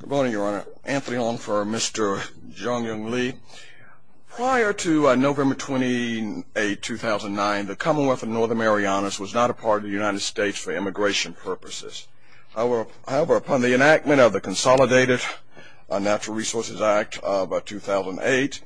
Good morning, Your Honor. Anthony Long for Mr. Jung Yong Li. Prior to November 28, 2009, the Commonwealth of Northern Marianas was not a part of the United States for immigration purposes. However, upon the enactment of the Consolidated Natural Resources Act of 2008,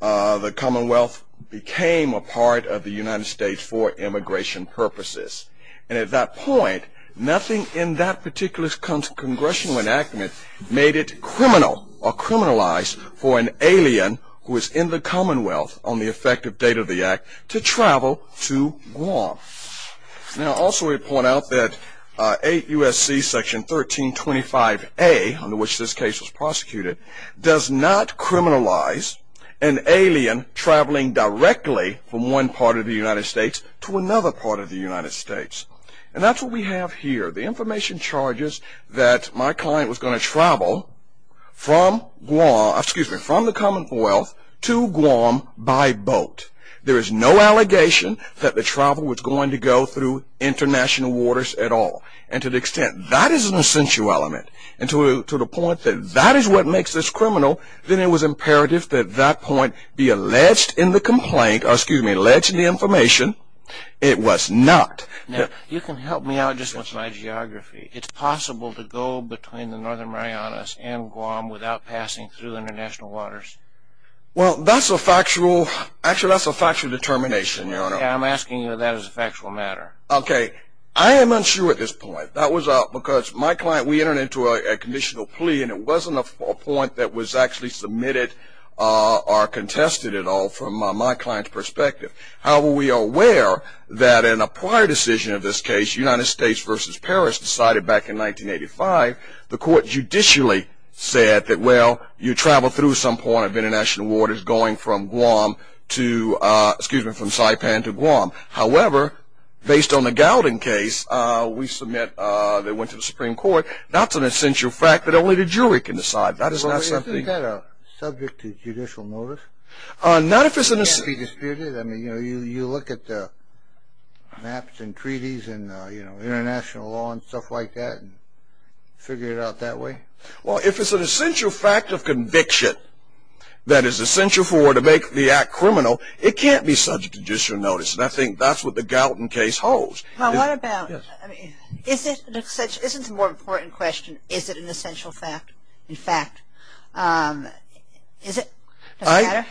the Commonwealth became a part of the United States for immigration purposes. And at that point, nothing in that particular Congressional enactment made it criminal or criminalized for an alien who was in the Commonwealth on the effective date of the act to travel to Guam. Now, also we point out that 8 U.S.C. section 1325A, under which this case was prosecuted, does not criminalize an alien traveling directly from one part of the United States to another part of the United States. And that's what we have here. The information charges that my client was going to travel from the Commonwealth to Guam by boat. There is no allegation that the travel was going to go through international waters at all. And to the extent that is an essential element, and to the point that that is what makes this criminal, then it was imperative that that point be alleged in the complaint, or excuse me, alleged in the information. It was not. Now, you can help me out just with my geography. It's possible to go between the Northern Marianas and Guam without passing through international waters? Well, that's a factual, actually that's a factual determination, Your Honor. Yeah, I'm asking you that as a factual matter. Okay. I am unsure at this point. That was because my client, we entered into a conditional plea, and it wasn't a point that was actually submitted or contested at all from my client's perspective. However, we are aware that in a prior decision of this case, United States versus Paris, decided back in 1985, the court judicially said that, well, you travel through some point of international waters going from Guam to, excuse me, from Saipan to Guam. However, based on the Gowden case, we submit that went to the Supreme Court. That's an essential fact that only the jury can decide. Isn't that subject to judicial notice? It can't be disputed. I mean, you know, you look at the maps and treaties and, you know, international law and stuff like that and figure it out that way. Well, if it's an essential fact of conviction that is essential for it to make the act criminal, it can't be subject to judicial notice. And I think that's what the Gowden case holds. Well, what about, I mean, isn't the more important question, is it an essential fact? In fact, is it? Does it matter?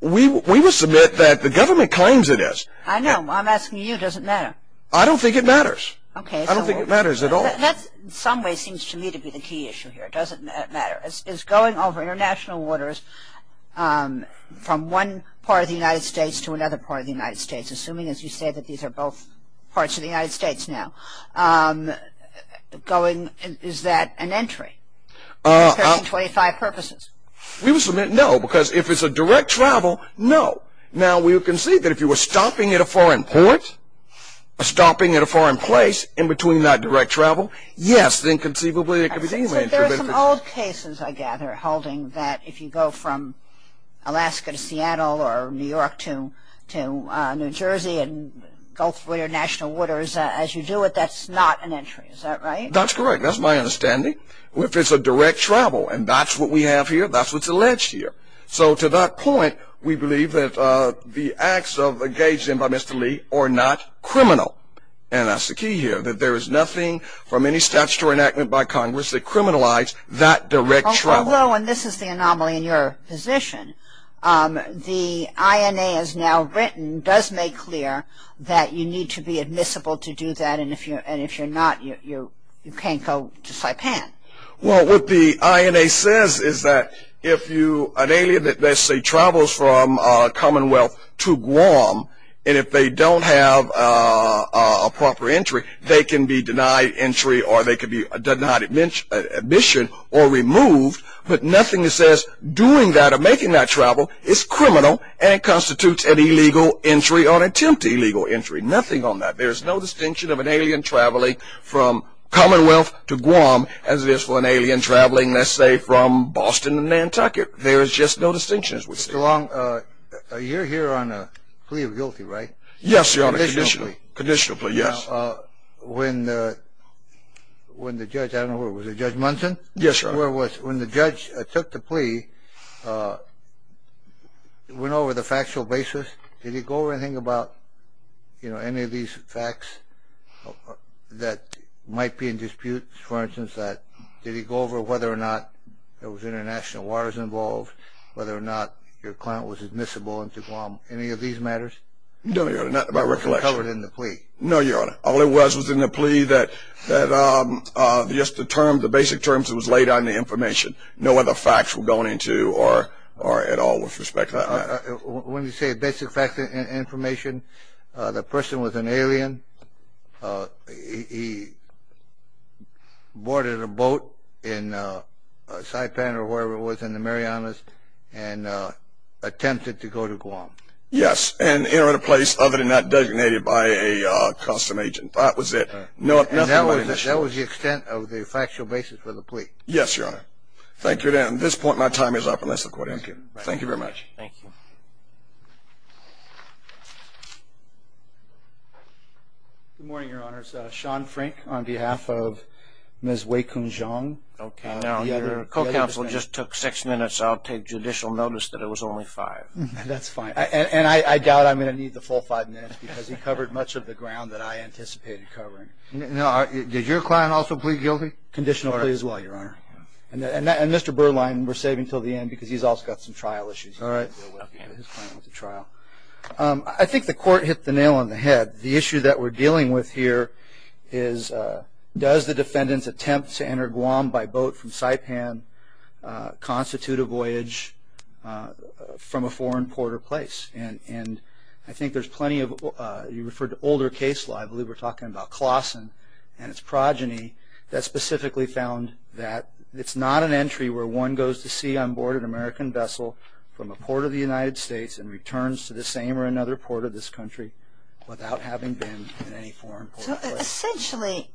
We will submit that the government claims it is. I know. I'm asking you, does it matter? I don't think it matters. Okay. I don't think it matters at all. That, in some ways, seems to me to be the key issue here. Does it matter? Is going over international waters from one part of the United States to another part of the United States, assuming, as you say, that these are both parts of the United States now, is that an entry? For 25 purposes. We will submit no, because if it's a direct travel, no. Now, we will concede that if you were stopping at a foreign port, stopping at a foreign place in between that direct travel, yes, then conceivably it could be deemed an entry. But there are some old cases, I gather, holding that if you go from Alaska to Seattle or New York to New Jersey and both international waters, as you do it, that's not an entry. Is that right? That's correct. That's my understanding. If it's a direct travel, and that's what we have here, that's what's alleged here. So to that point, we believe that the acts engaged in by Mr. Lee are not criminal, and that's the key here, that there is nothing from any statutory enactment by Congress that criminalized that direct travel. Although, and this is the anomaly in your position, the INA has now written, does make clear, that you need to be admissible to do that, and if you're not, you can't go to Saipan. Well, what the INA says is that if an alien that, let's say, travels from Commonwealth to Guam, and if they don't have a proper entry, they can be denied entry or they can be denied admission or removed, but nothing that says doing that or making that travel is criminal and constitutes an illegal entry or an attempt to illegal entry. Nothing on that. There is no distinction of an alien traveling from Commonwealth to Guam as it is for an alien traveling, let's say, from Boston to Nantucket. There is just no distinction. Mr. Long, you're here on a plea of guilty, right? Yes, Your Honor. Conditional plea. Conditional plea, yes. When the judge, I don't know, was it Judge Munson? Yes, Your Honor. When the judge took the plea, went over the factual basis, did he go over anything about any of these facts that might be in dispute? For instance, did he go over whether or not there was international waters involved, whether or not your client was admissible into Guam, any of these matters? No, Your Honor, not by recollection. It wasn't covered in the plea? No, Your Honor. All it was was in the plea that just the terms, the basic terms that was laid on the information. No other facts were going into or at all with respect to that matter. He boarded a boat in Saipan or wherever it was in the Marianas and attempted to go to Guam. Yes, and entered a place other than that designated by a custom agent. That was it. That was the extent of the factual basis for the plea. Yes, Your Honor. Thank you again. At this point, my time is up unless the court answers. Thank you very much. Thank you. Good morning, Your Honors. Sean Frank on behalf of Ms. Wei-Kun Zhang. Okay. Now, your co-counsel just took six minutes, so I'll take judicial notice that it was only five. That's fine. And I doubt I'm going to need the full five minutes because he covered much of the ground that I anticipated covering. Now, did your client also plead guilty? Conditional plea as well, Your Honor. And Mr. Berline, we're saving until the end because he's also got some trial issues he has to deal with. Okay. His client was at trial. I think the court hit the nail on the head. The issue that we're dealing with here is does the defendant's attempt to enter Guam by boat from Saipan constitute a voyage from a foreign port or place? And I think there's plenty of you referred to older cases. I believe we're talking about Klassen and his progeny that specifically found that it's not an entry where one goes to sea on board an American vessel from a port of the United States and returns to the same or another port of this country without having been in any foreign port or place. So essentially,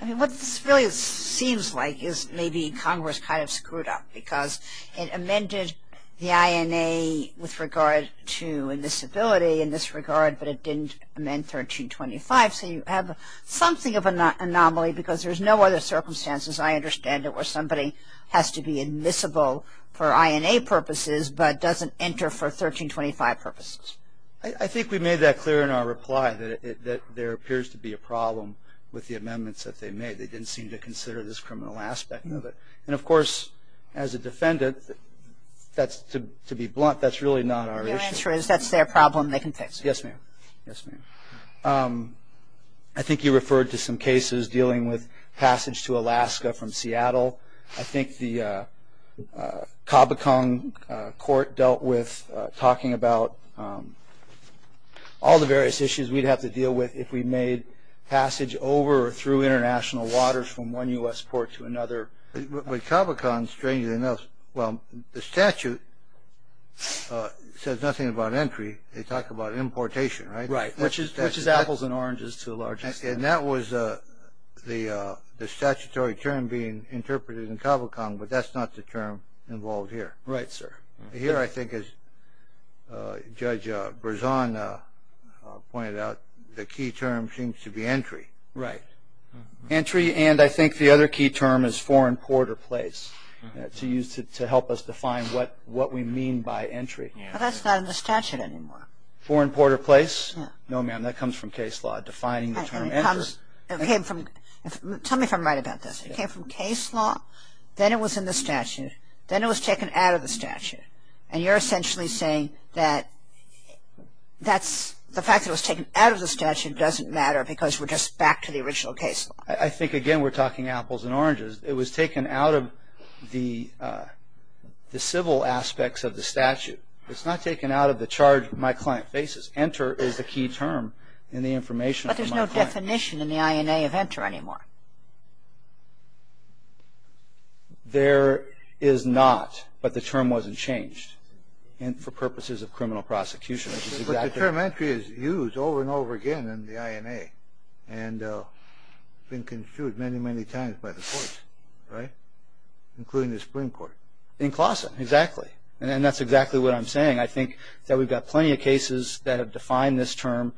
I mean, what this really seems like is maybe Congress kind of screwed up because it amended the INA with regard to invisibility in this regard, but it didn't amend 1325. So you have something of an anomaly because there's no other circumstances, I understand, where somebody has to be admissible for INA purposes but doesn't enter for 1325 purposes. I think we made that clear in our reply that there appears to be a problem with the amendments that they made. They didn't seem to consider this criminal aspect of it. And, of course, as a defendant, to be blunt, that's really not our issue. Your answer is that's their problem. They can fix it. Yes, ma'am. Yes, ma'am. I think you referred to some cases dealing with passage to Alaska from Seattle. I think the Cabocon court dealt with talking about all the various issues we'd have to deal with if we made passage over or through international waters from one U.S. port to another. But Cabocon, strangely enough, well, the statute says nothing about entry. They talk about importation, right? Right. Which is apples and oranges to a large extent. And that was the statutory term being interpreted in Cabocon, but that's not the term involved here. Right, sir. Here, I think, as Judge Berzon pointed out, the key term seems to be entry. Right. Entry, and I think the other key term is foreign port or place to use to help us define what we mean by entry. But that's not in the statute anymore. Foreign port or place? No, ma'am. That comes from case law, defining the term entry. Tell me if I'm right about this. It came from case law, then it was in the statute, then it was taken out of the statute. And you're essentially saying that the fact that it was taken out of the statute doesn't matter because we're just back to the original case law. I think, again, we're talking apples and oranges. It was taken out of the civil aspects of the statute. It's not taken out of the charge my client faces. Enter is the key term in the information of my client. But there's no definition in the INA of enter anymore. There is not, but the term wasn't changed for purposes of criminal prosecution. But the term entry is used over and over again in the INA and has been construed many, many times by the courts, right, including the Supreme Court. In Claussen, exactly. And that's exactly what I'm saying. I think that we've got plenty of cases that have defined this term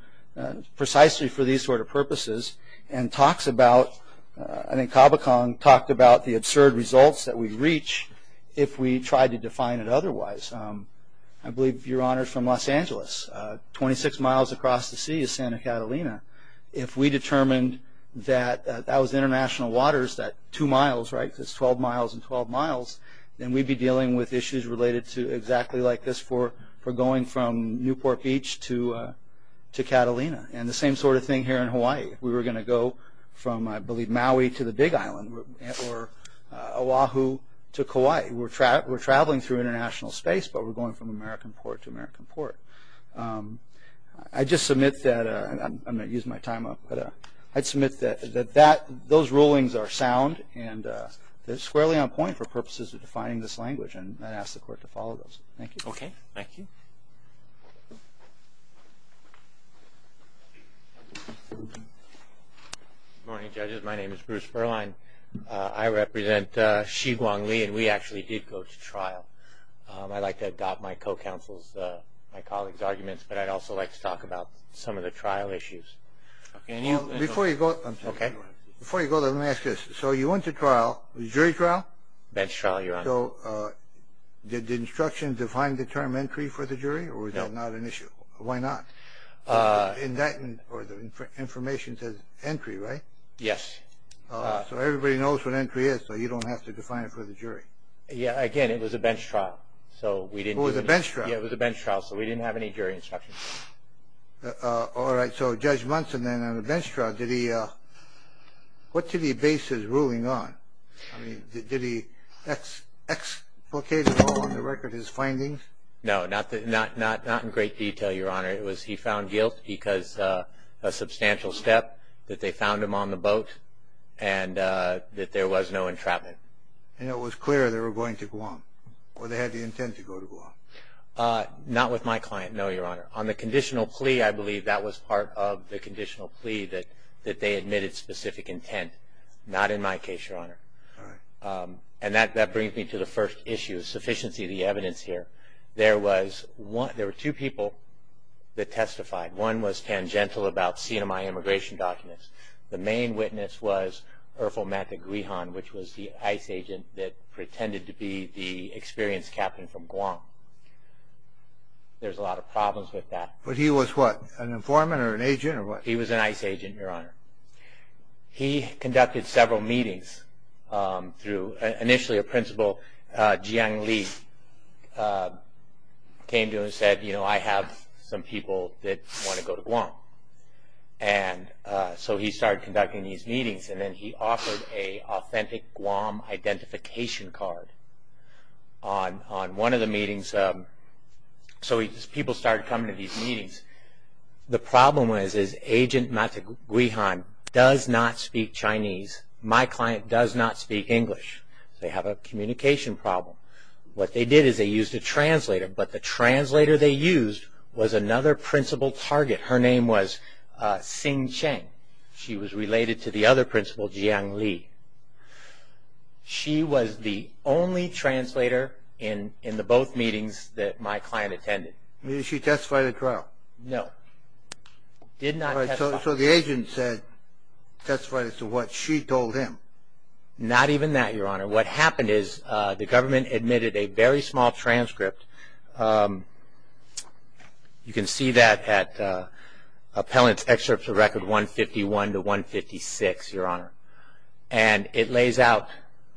precisely for these sort of purposes and talks about, I think Cabocon talked about the absurd results that we'd reach if we tried to define it otherwise. I believe Your Honor is from Los Angeles. Twenty-six miles across the sea is Santa Catalina. If we determined that that was international waters, that two miles, right, that's 12 miles and 12 miles, then we'd be dealing with issues related to exactly like this for going from Newport Beach to Catalina. And the same sort of thing here in Hawaii. We were going to go from, I believe, Maui to the Big Island or Oahu to Kauai. We're traveling through international space, but we're going from American port to American port. I'd just submit that, I'm going to use my time up, but I'd submit that those rulings are sound and they're squarely on point for purposes of defining this language, and I'd ask the court to follow those. Thank you. Okay, thank you. Good morning, judges. My name is Bruce Perline. I'd like to adopt my co-counsel's, my colleague's arguments, but I'd also like to talk about some of the trial issues. Before you go, let me ask this. So you went to trial, jury trial? Bench trial, Your Honor. So did the instructions define the term entry for the jury or was that not an issue? Why not? The information says entry, right? Yes. So everybody knows what entry is, so you don't have to define it for the jury. Yes, again, it was a bench trial. It was a bench trial? Yes, it was a bench trial, so we didn't have any jury instructions. All right, so Judge Munson then on the bench trial, what did he base his ruling on? Did he explicate at all on the record his findings? No, not in great detail, Your Honor. He found guilt because of a substantial step, that they found him on the boat, and that there was no entrapment. And it was clear they were going to Guam, or they had the intent to go to Guam. Not with my client, no, Your Honor. On the conditional plea, I believe that was part of the conditional plea that they admitted specific intent. Not in my case, Your Honor. All right. And that brings me to the first issue, sufficiency of the evidence here. There were two people that testified. One was tangential about CMI immigration documents. The main witness was Erfolmatha Grihan, which was the ICE agent that pretended to be the experienced captain from Guam. There's a lot of problems with that. But he was what, an informant or an agent or what? He was an ICE agent, Your Honor. He conducted several meetings. Initially a principal, Jiang Li, came to him and said, you know, I have some people that want to go to Guam. And so he started conducting these meetings. And then he offered an authentic Guam identification card on one of the meetings. So people started coming to these meetings. The problem was, is Agent Mataguihan does not speak Chinese. My client does not speak English. They have a communication problem. What they did is they used a translator. But the translator they used was another principal target. Her name was Xing Cheng. She was related to the other principal, Jiang Li. She was the only translator in the both meetings that my client attended. Did she testify at the trial? No. Did not testify. So the agent testified as to what she told him. Not even that, Your Honor. What happened is the government admitted a very small transcript. You can see that at Appellant's Excerpt to Record 151 to 156, Your Honor. And it lays out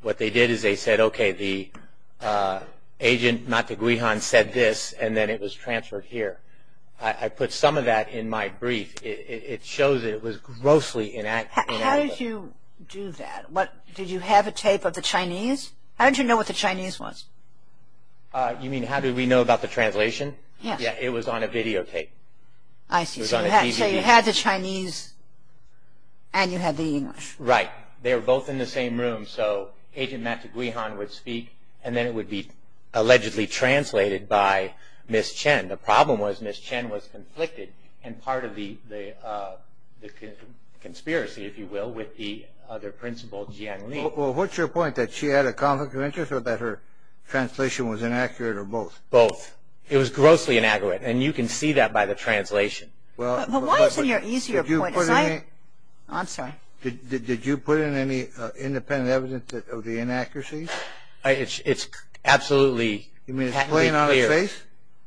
what they did is they said, okay, the Agent Mataguihan said this, and then it was transferred here. I put some of that in my brief. It shows that it was grossly inaccurate. How did you do that? Did you have a tape of the Chinese? How did you know what the Chinese was? You mean how did we know about the translation? Yes. It was on a videotape. I see. So you had the Chinese and you had the English. Right. They were both in the same room, so Agent Mataguihan would speak, and then it would be allegedly translated by Ms. Chen. The problem was Ms. Chen was conflicted in part of the conspiracy, if you will, with the other principal, Jiang Li. Well, what's your point, that she had a conflict of interest or that her translation was inaccurate or both? Both. It was grossly inaccurate, and you can see that by the translation. But why isn't your easier point? I'm sorry. Did you put in any independent evidence of the inaccuracy? It's absolutely patently clear. You mean it's plain on its face?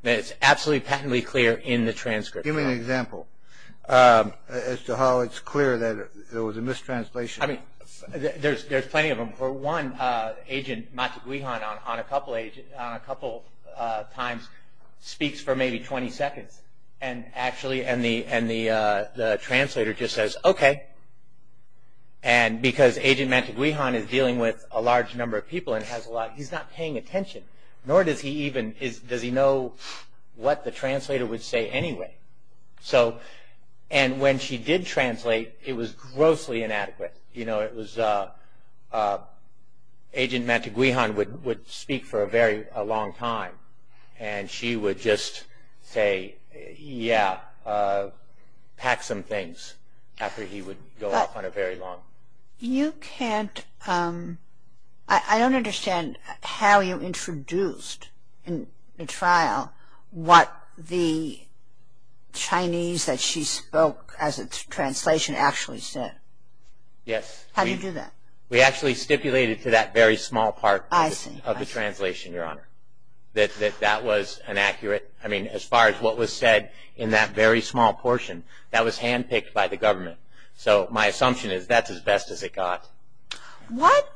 It's absolutely patently clear in the transcript. Give me an example as to how it's clear that it was a mistranslation. I mean, there's plenty of them. For one, Agent Mataguihan on a couple times speaks for maybe 20 seconds, and actually the translator just says, Okay, because Agent Mataguihan is dealing with a large number of people and he's not paying attention, nor does he know what the translator would say anyway. And when she did translate, it was grossly inadequate. You know, Agent Mataguihan would speak for a very long time, and she would just say, Yeah, pack some things after he would go off on a very long. So you can't, I don't understand how you introduced in the trial what the Chinese that she spoke as a translation actually said. Yes. How did you do that? We actually stipulated to that very small part of the translation, Your Honor, that that was inaccurate. I mean, as far as what was said in that very small portion, that was handpicked by the government. So my assumption is that's as best as it got. What?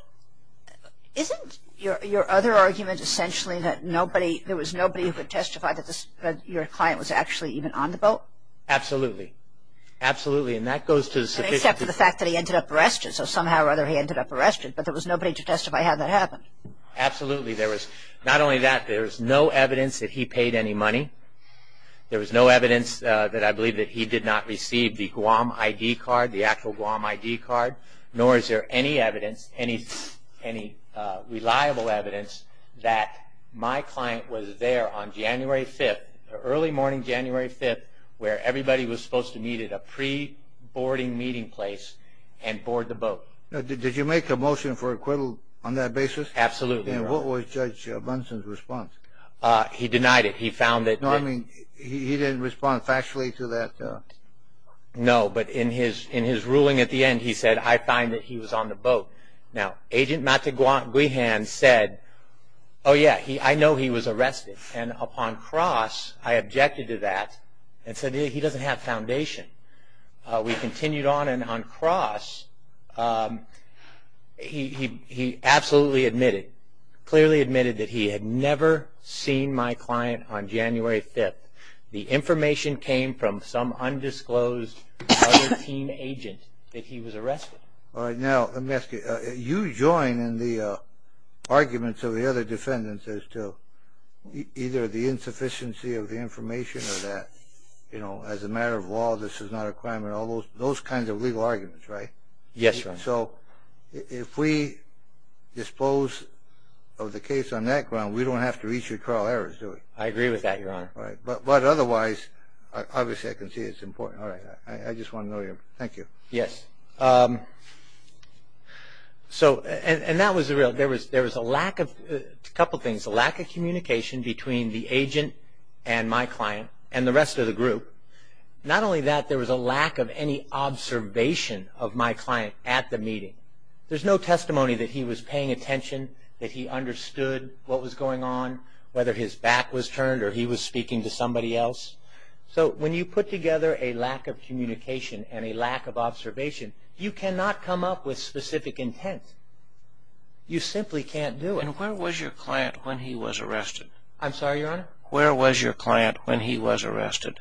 Isn't your other argument essentially that nobody, there was nobody who could testify that your client was actually even on the boat? Absolutely. Absolutely. And that goes to the sufficient. Except for the fact that he ended up arrested. So somehow or other he ended up arrested, but there was nobody to testify how that happened. Absolutely. Not only that, there was no evidence that he paid any money. There was no evidence that I believe that he did not receive the Guam ID card, the actual Guam ID card, nor is there any evidence, any reliable evidence, that my client was there on January 5th, early morning January 5th, where everybody was supposed to meet at a pre-boarding meeting place and board the boat. Did you make a motion for acquittal on that basis? Absolutely, Your Honor. And what was Judge Munson's response? He denied it. No, I mean, he didn't respond factually to that. No, but in his ruling at the end he said, I find that he was on the boat. Now, Agent Mataguihan said, oh, yeah, I know he was arrested, and upon cross I objected to that and said, yeah, he doesn't have foundation. We continued on, and on cross he absolutely admitted, clearly admitted that he had never seen my client on January 5th. The information came from some undisclosed other teen agent that he was arrested. All right. Now, let me ask you, you join in the arguments of the other defendants as to either the insufficiency of the information or that, you know, as a matter of law this is not a crime and all those kinds of legal arguments, right? Yes, Your Honor. And so if we dispose of the case on that ground, we don't have to reach a trial error, do we? I agree with that, Your Honor. All right. But otherwise, obviously I can see it's important. All right. I just want to know your opinion. Thank you. Yes. So, and that was the real, there was a lack of, a couple things, a lack of communication between the agent and my client and the rest of the group. Not only that, there was a lack of any observation of my client at the meeting. There's no testimony that he was paying attention, that he understood what was going on, whether his back was turned or he was speaking to somebody else. So when you put together a lack of communication and a lack of observation, you cannot come up with specific intent. You simply can't do it. And where was your client when he was arrested? I'm sorry, Your Honor? Where was your client when he was arrested?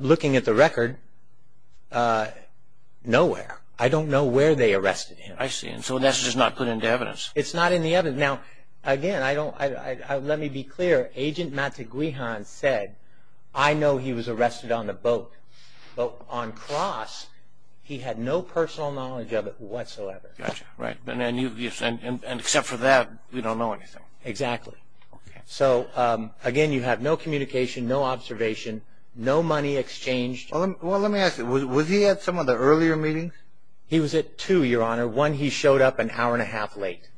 Looking at the record, nowhere. I don't know where they arrested him. I see. And so that's just not put into evidence. It's not in the evidence. Now, again, I don't, let me be clear. Agent Matiguihan said, I know he was arrested on the boat. But on cross, he had no personal knowledge of it whatsoever. Gotcha. Right. And except for that, we don't know anything. Exactly. So, again, you have no communication, no observation, no money exchanged. Well, let me ask you, was he at some of the earlier meetings? He was at two, Your Honor. One, he showed up an hour and a half late.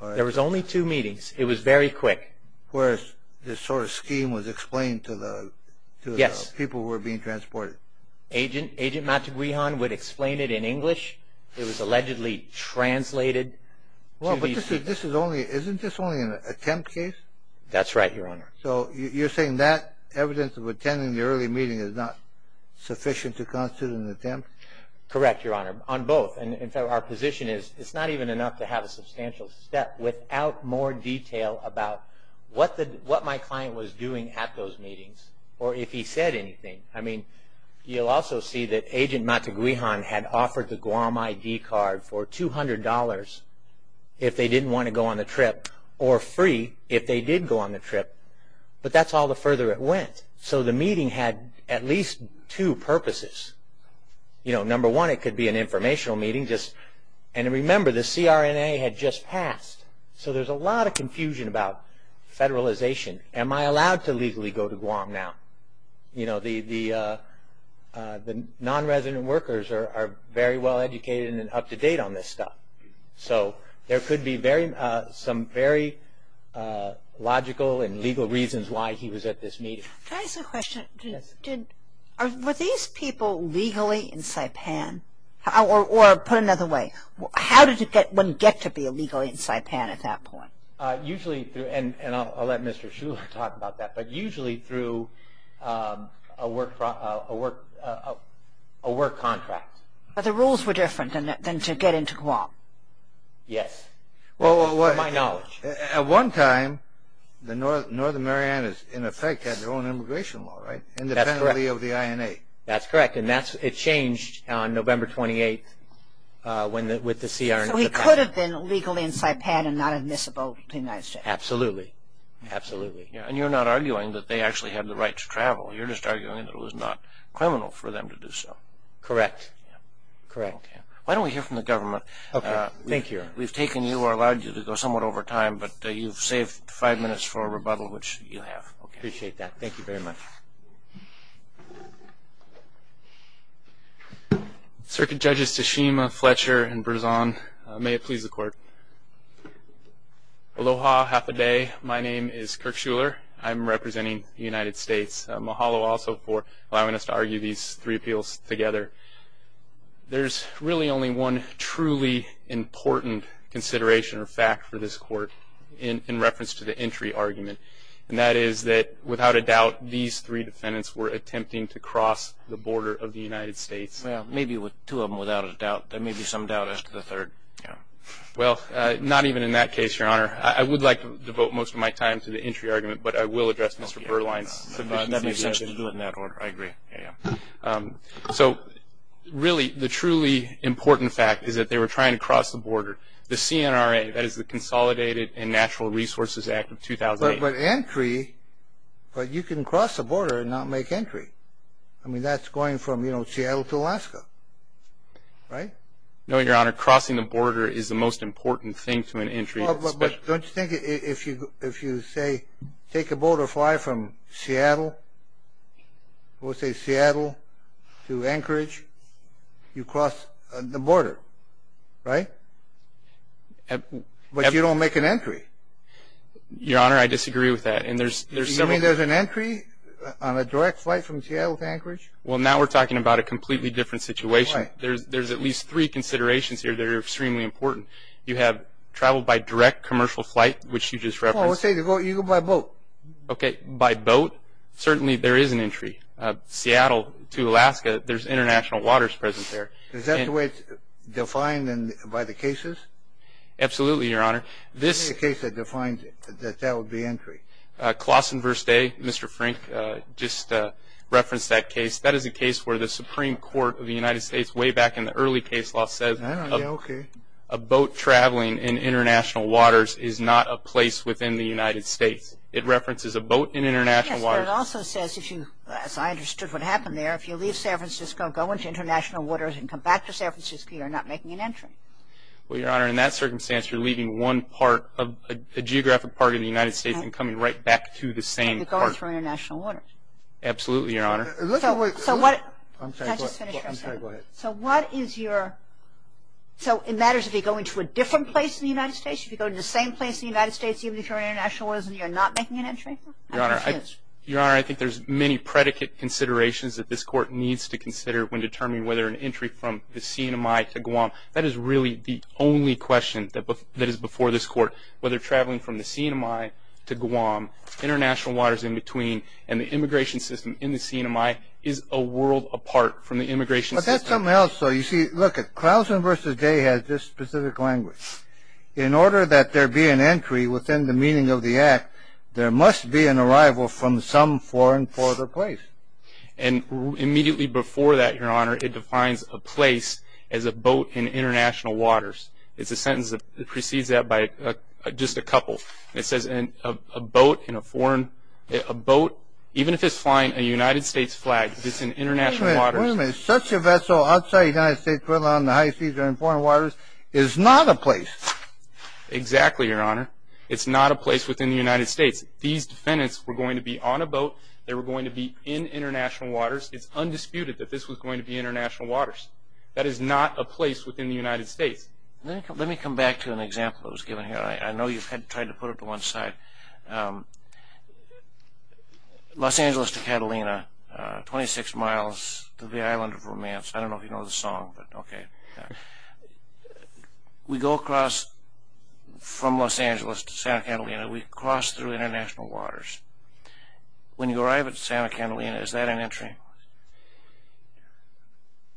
There was only two meetings. It was very quick. Whereas this sort of scheme was explained to the people who were being transported. Agent Matiguihan would explain it in English. It was allegedly translated. Isn't this only an attempt case? That's right, Your Honor. So you're saying that evidence of attending the early meeting is not sufficient to constitute an attempt? Correct, Your Honor, on both. And, in fact, our position is it's not even enough to have a substantial step without more detail about what my client was doing at those meetings or if he said anything. You'll also see that Agent Matiguihan had offered the Guam ID card for $200 if they didn't want to go on the trip or free if they did go on the trip. But that's all the further it went. So the meeting had at least two purposes. Number one, it could be an informational meeting. And remember, the CRNA had just passed. So there's a lot of confusion about federalization. Am I allowed to legally go to Guam now? You know, the nonresident workers are very well educated and up-to-date on this stuff. So there could be some very logical and legal reasons why he was at this meeting. Can I ask a question? Yes. Were these people legally in Saipan? Or put another way, how did one get to be legally in Saipan at that point? And I'll let Mr. Shuler talk about that. But usually through a work contract. But the rules were different than to get into Guam. Yes, to my knowledge. At one time, the Northern Marianas, in effect, had their own immigration law, right? That's correct. Independently of the INA. That's correct. And it changed on November 28th with the CRNA. So he could have been legally in Saipan and not admissible in the United States? Absolutely. Absolutely. And you're not arguing that they actually had the right to travel. You're just arguing that it was not criminal for them to do so. Correct. Correct. Why don't we hear from the government? Okay. Thank you. We've taken you or allowed you to go somewhat over time, but you've saved five minutes for a rebuttal, which you have. Appreciate that. Thank you very much. Circuit Judges Tashima, Fletcher, and Berzon, may it please the Court. Aloha, half a day. My name is Kirk Schuler. I'm representing the United States. Mahalo also for allowing us to argue these three appeals together. There's really only one truly important consideration or fact for this Court in reference to the entry argument, and that is that, without a doubt, these three defendants were attempting to cross the border of the United States. Well, maybe two of them without a doubt. There may be some doubt as to the third. Yeah. Well, not even in that case, Your Honor. I would like to devote most of my time to the entry argument, but I will address Mr. Berline's. That makes sense to do it in that order. I agree. Yeah, yeah. So, really, the truly important fact is that they were trying to cross the border. The CNRA, that is the Consolidated and Natural Resources Act of 2008. But entry, but you can cross the border and not make entry. I mean, that's going from, you know, Seattle to Alaska, right? No, Your Honor. Crossing the border is the most important thing to an entry. Don't you think if you say take a boat or fly from Seattle, we'll say Seattle, to Anchorage, you cross the border, right? But you don't make an entry. Your Honor, I disagree with that. Do you mean there's an entry on a direct flight from Seattle to Anchorage? Well, now we're talking about a completely different situation. Right. There's at least three considerations here that are extremely important. You have travel by direct commercial flight, which you just referenced. Well, we'll say you go by boat. Okay, by boat, certainly there is an entry. Seattle to Alaska, there's international waters present there. Is that the way it's defined by the cases? Absolutely, Your Honor. This is the case that defines it, that that would be entry. Claussen v. Day, Mr. Frank, just referenced that case. That is a case where the Supreme Court of the United States, way back in the early case law, says a boat traveling in international waters is not a place within the United States. It references a boat in international waters. Yes, but it also says, as I understood what happened there, if you leave San Francisco, go into international waters and come back to San Francisco, you're not making an entry. Well, Your Honor, in that circumstance, you're leaving one part of a geographic part of the United States and coming right back to the same part. You're going through international waters. Absolutely, Your Honor. So what is your – so it matters if you go into a different place in the United States, if you go to the same place in the United States, even if you're in international waters, and you're not making an entry? Your Honor, I think there's many predicate considerations that this Court needs to consider when determining whether an entry from the CNMI to Guam. That is really the only question that is before this Court, whether traveling from the CNMI to Guam, international waters in between, and the immigration system in the CNMI is a world apart from the immigration system. But that's something else, though. You see, look, Klausen v. Day has this specific language. In order that there be an entry within the meaning of the Act, there must be an arrival from some foreign, farther place. And immediately before that, Your Honor, it defines a place as a boat in international waters. It's a sentence that precedes that by just a couple. It says a boat in a foreign – a boat, even if it's flying a United States flag, if it's in international waters. Wait a minute, wait a minute. Such a vessel outside the United States, whether on the high seas or in foreign waters, is not a place. Exactly, Your Honor. It's not a place within the United States. These defendants were going to be on a boat. They were going to be in international waters. It's undisputed that this was going to be international waters. That is not a place within the United States. Let me come back to an example that was given here. I know you've tried to put it to one side. Los Angeles to Catalina, 26 miles to the Island of Romance. I don't know if you know the song, but okay. We go across from Los Angeles to Santa Catalina. We cross through international waters. When you arrive at Santa Catalina, is that an entry?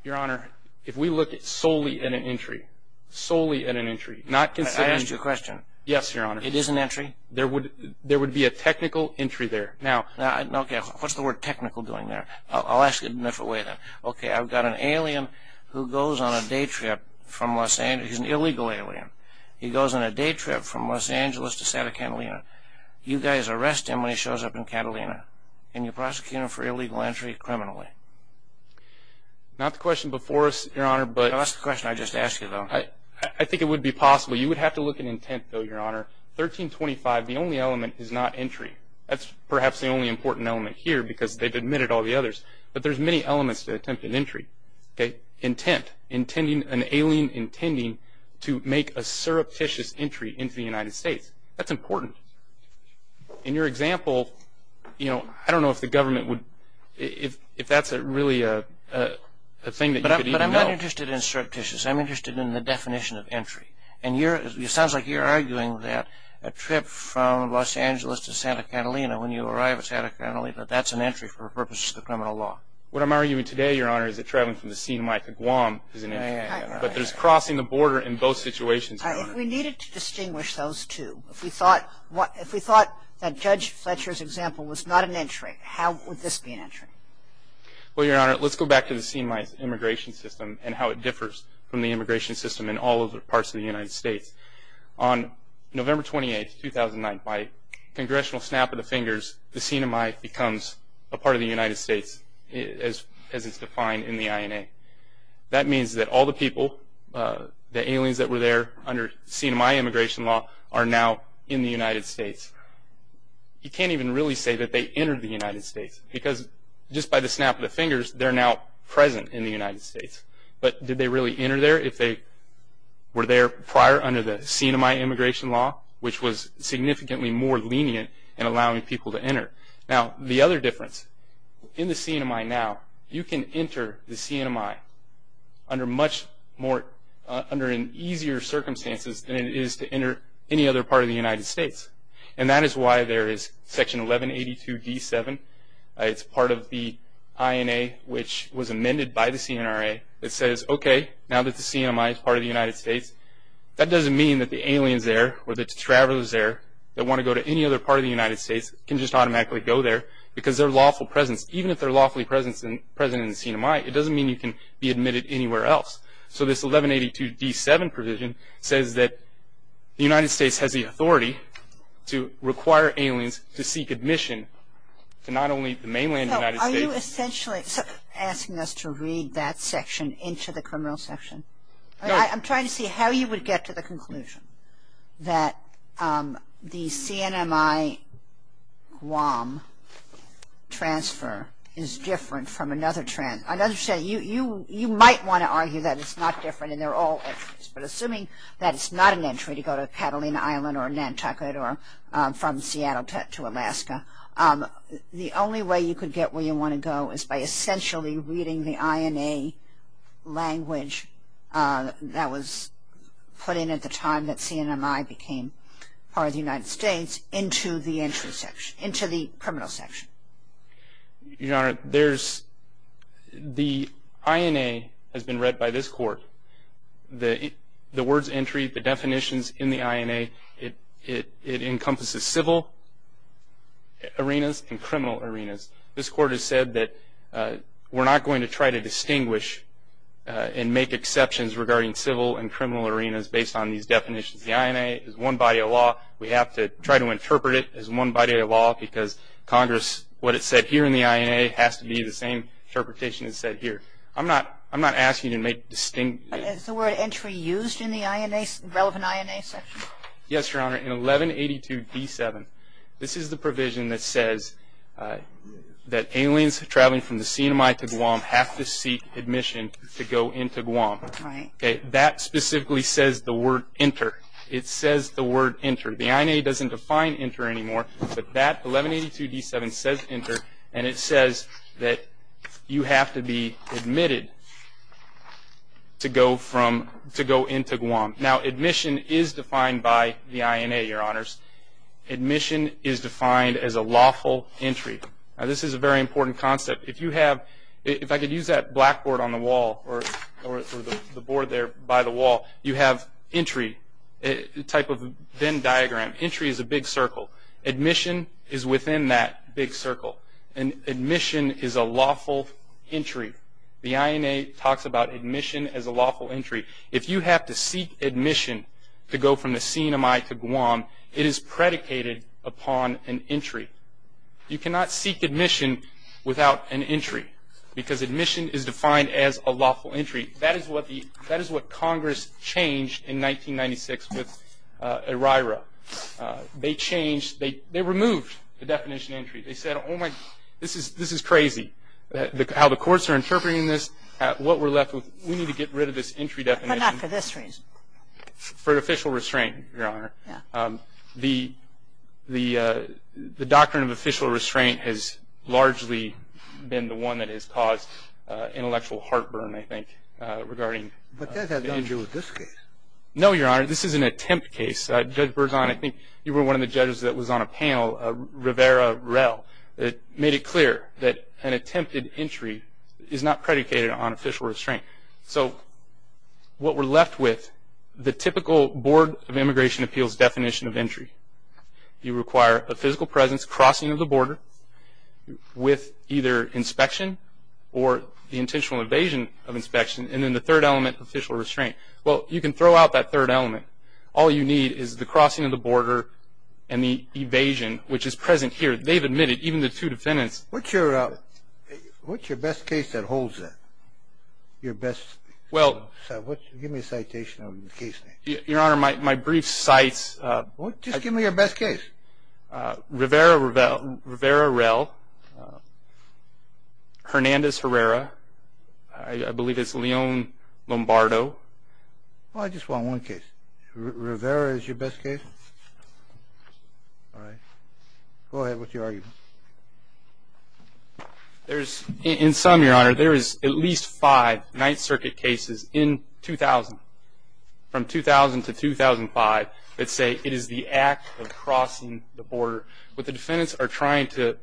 Your Honor, if we look solely at an entry, solely at an entry, not considering – I asked you a question. Yes, Your Honor. It is an entry. There would be a technical entry there. Now, okay, what's the word technical doing there? I'll ask it another way then. Okay, I've got an alien who goes on a day trip from Los Angeles. He's an illegal alien. He goes on a day trip from Los Angeles to Santa Catalina. You guys arrest him when he shows up in Catalina, and you prosecute him for illegal entry criminally. Not the question before us, Your Honor, but – No, that's the question I just asked you, though. I think it would be possible. You would have to look at intent, though, Your Honor. 1325, the only element is not entry. That's perhaps the only important element here because they've admitted all the others. But there's many elements to attempt an entry. Intent, an alien intending to make a surreptitious entry into the United States. That's important. In your example, I don't know if the government would – if that's really a thing that you could even know. But I'm not interested in surreptitious. I'm interested in the definition of entry. And it sounds like you're arguing that a trip from Los Angeles to Santa Catalina, when you arrive at Santa Catalina, that that's an entry for purposes of criminal law. What I'm arguing today, Your Honor, is that traveling from the Sinai to Guam is an entry. But there's crossing the border in both situations, Your Honor. We needed to distinguish those two. If we thought that Judge Fletcher's example was not an entry, how would this be an entry? Well, Your Honor, let's go back to the Sinai immigration system and how it differs from the immigration system in all other parts of the United States. On November 28, 2009, by congressional snap of the fingers, the Sinai becomes a part of the United States as it's defined in the INA. That means that all the people, the aliens that were there under Sinai immigration law, are now in the United States. You can't even really say that they entered the United States because just by the snap of the fingers, they're now present in the United States. But did they really enter there if they were there prior under the Sinai immigration law, which was significantly more lenient in allowing people to enter? Now, the other difference, in the Sinai now, you can enter the Sinai under much more easier circumstances than it is to enter any other part of the United States. And that is why there is Section 1182d7. It's part of the INA, which was amended by the Sinai. It says, okay, now that the Sinai is part of the United States, that doesn't mean that the aliens there or the travelers there that want to go to any other part of the United States can just automatically go there because their lawful presence, even if they're lawfully present in Sinai, it doesn't mean you can be admitted anywhere else. So this 1182d7 provision says that the United States has the authority to require aliens to seek admission to not only the mainland United States. So are you essentially asking us to read that section into the criminal section? No. I'm trying to see how you would get to the conclusion that the CNMI Guam transfer is different from another transfer. I understand you might want to argue that it's not different and they're all entries, but assuming that it's not an entry to go to Catalina Island or Nantucket or from Seattle to Alaska, the only way you could get where you want to go is by essentially reading the INA language that was put in at the time that CNMI became part of the United States into the criminal section. Your Honor, the INA has been read by this Court. The words entry, the definitions in the INA, it encompasses civil arenas and criminal arenas. This Court has said that we're not going to try to distinguish and make exceptions regarding civil and criminal arenas based on these definitions. The INA is one body of law. We have to try to interpret it as one body of law because Congress, what it said here in the INA has to be the same interpretation it said here. I'm not asking you to make distinct. Is the word entry used in the INA, relevant INA section? Yes, Your Honor. In 1182d7, this is the provision that says that aliens traveling from the CNMI to Guam have to seek admission to go into Guam. That specifically says the word enter. It says the word enter. The INA doesn't define enter anymore, but that 1182d7 says enter, and it says that you have to be admitted to go into Guam. Now, admission is defined by the INA, Your Honors. Admission is defined as a lawful entry. Now, this is a very important concept. If I could use that blackboard on the wall or the board there by the wall, you have entry, a type of Venn diagram. Entry is a big circle. Admission is within that big circle, and admission is a lawful entry. The INA talks about admission as a lawful entry. If you have to seek admission to go from the CNMI to Guam, it is predicated upon an entry. You cannot seek admission without an entry because admission is defined as a lawful entry. That is what Congress changed in 1996 with ERIRA. They changed, they removed the definition of entry. They said, oh, my, this is crazy how the courts are interpreting this, and what we're left with, we need to get rid of this entry definition. But not for this reason. For official restraint, Your Honor. Yeah. The doctrine of official restraint has largely been the one that has caused intellectual heartburn, I think, regarding entry. But that has nothing to do with this case. No, Your Honor. This is an attempt case. Judge Berzon, I think you were one of the judges that was on a panel, Rivera-Rell, that made it clear that an attempted entry is not predicated on official restraint. So what we're left with, the typical Board of Immigration Appeals definition of entry, you require a physical presence, crossing of the border with either inspection or the intentional evasion of inspection, and then the third element, official restraint. Well, you can throw out that third element. All you need is the crossing of the border and the evasion, which is present here. They've admitted, even the two defendants. What's your best case that holds that? Your best? Give me a citation on the case. Your Honor, my brief cites... Just give me your best case. Rivera-Rell, Hernandez-Herrera, I believe it's Leon Lombardo. I just want one case. Rivera is your best case? All right. Go ahead. What's your argument? In some, Your Honor, there is at least five Ninth Circuit cases in 2000, from 2000 to 2005, that say it is the act of crossing the border. What the defendants are trying to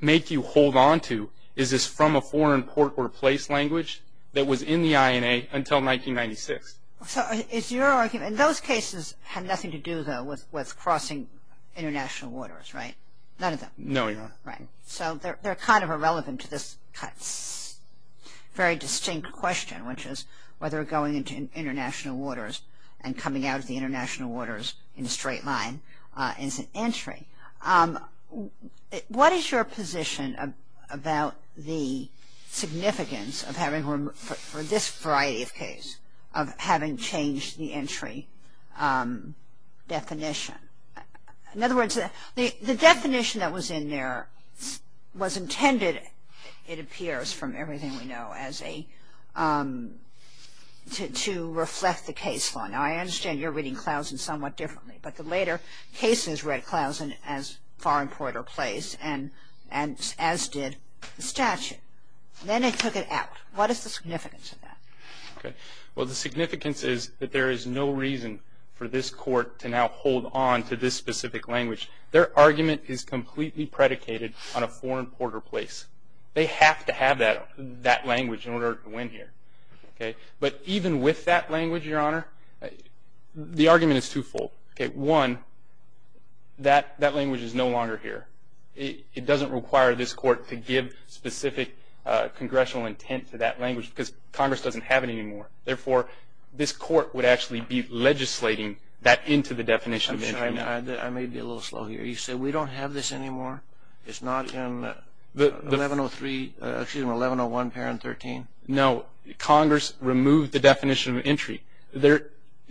make you hold on to is this from a foreign port or place language that was in the INA until 1996. So it's your argument. And those cases had nothing to do, though, with crossing international waters, right? None of them? No, Your Honor. Right. So they're kind of irrelevant to this very distinct question, which is whether going into international waters and coming out of the international waters in a straight line is an entry. What is your position about the significance of having, for this variety of case, of having changed the entry definition? In other words, the definition that was in there was intended, it appears from everything we know, as a, to reflect the case law. Now, I understand you're reading Clausen somewhat differently. But the later cases read Clausen as foreign port or place, as did the statute. Then they took it out. What is the significance of that? Well, the significance is that there is no reason for this Court to now hold on to this specific language. Their argument is completely predicated on a foreign port or place. They have to have that language in order to win here. But even with that language, Your Honor, the argument is twofold. One, that language is no longer here. It doesn't require this Court to give specific congressional intent to that language because Congress doesn't have it anymore. Therefore, this Court would actually be legislating that into the definition of entry. I'm sorry. I may be a little slow here. You said we don't have this anymore? It's not in 1103, excuse me, 1101 Parent 13? No. Congress removed the definition of entry.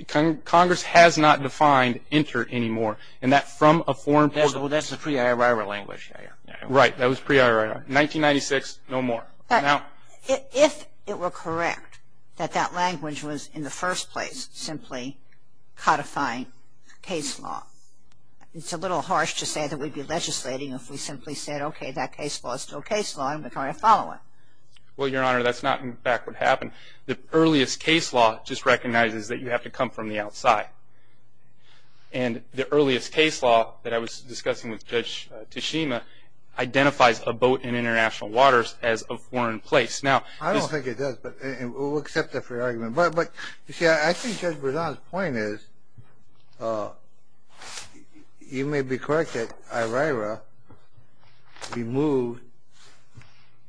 Congress has not defined enter anymore. And that's from a foreign port. That's the pre-IOR language. Right. That was pre-IOR. 1996, no more. If it were correct that that language was in the first place simply codifying case law, it's a little harsh to say that we'd be legislating if we simply said, okay, that case law is still case law and we're going to follow it. Well, Your Honor, that's not in fact what happened. The earliest case law just recognizes that you have to come from the outside. And the earliest case law that I was discussing with Judge Tashima identifies a boat in international waters as a foreign place. I don't think it does, but we'll accept that for your argument. But, you see, I think Judge Berzon's point is you may be correct that IRIRA removed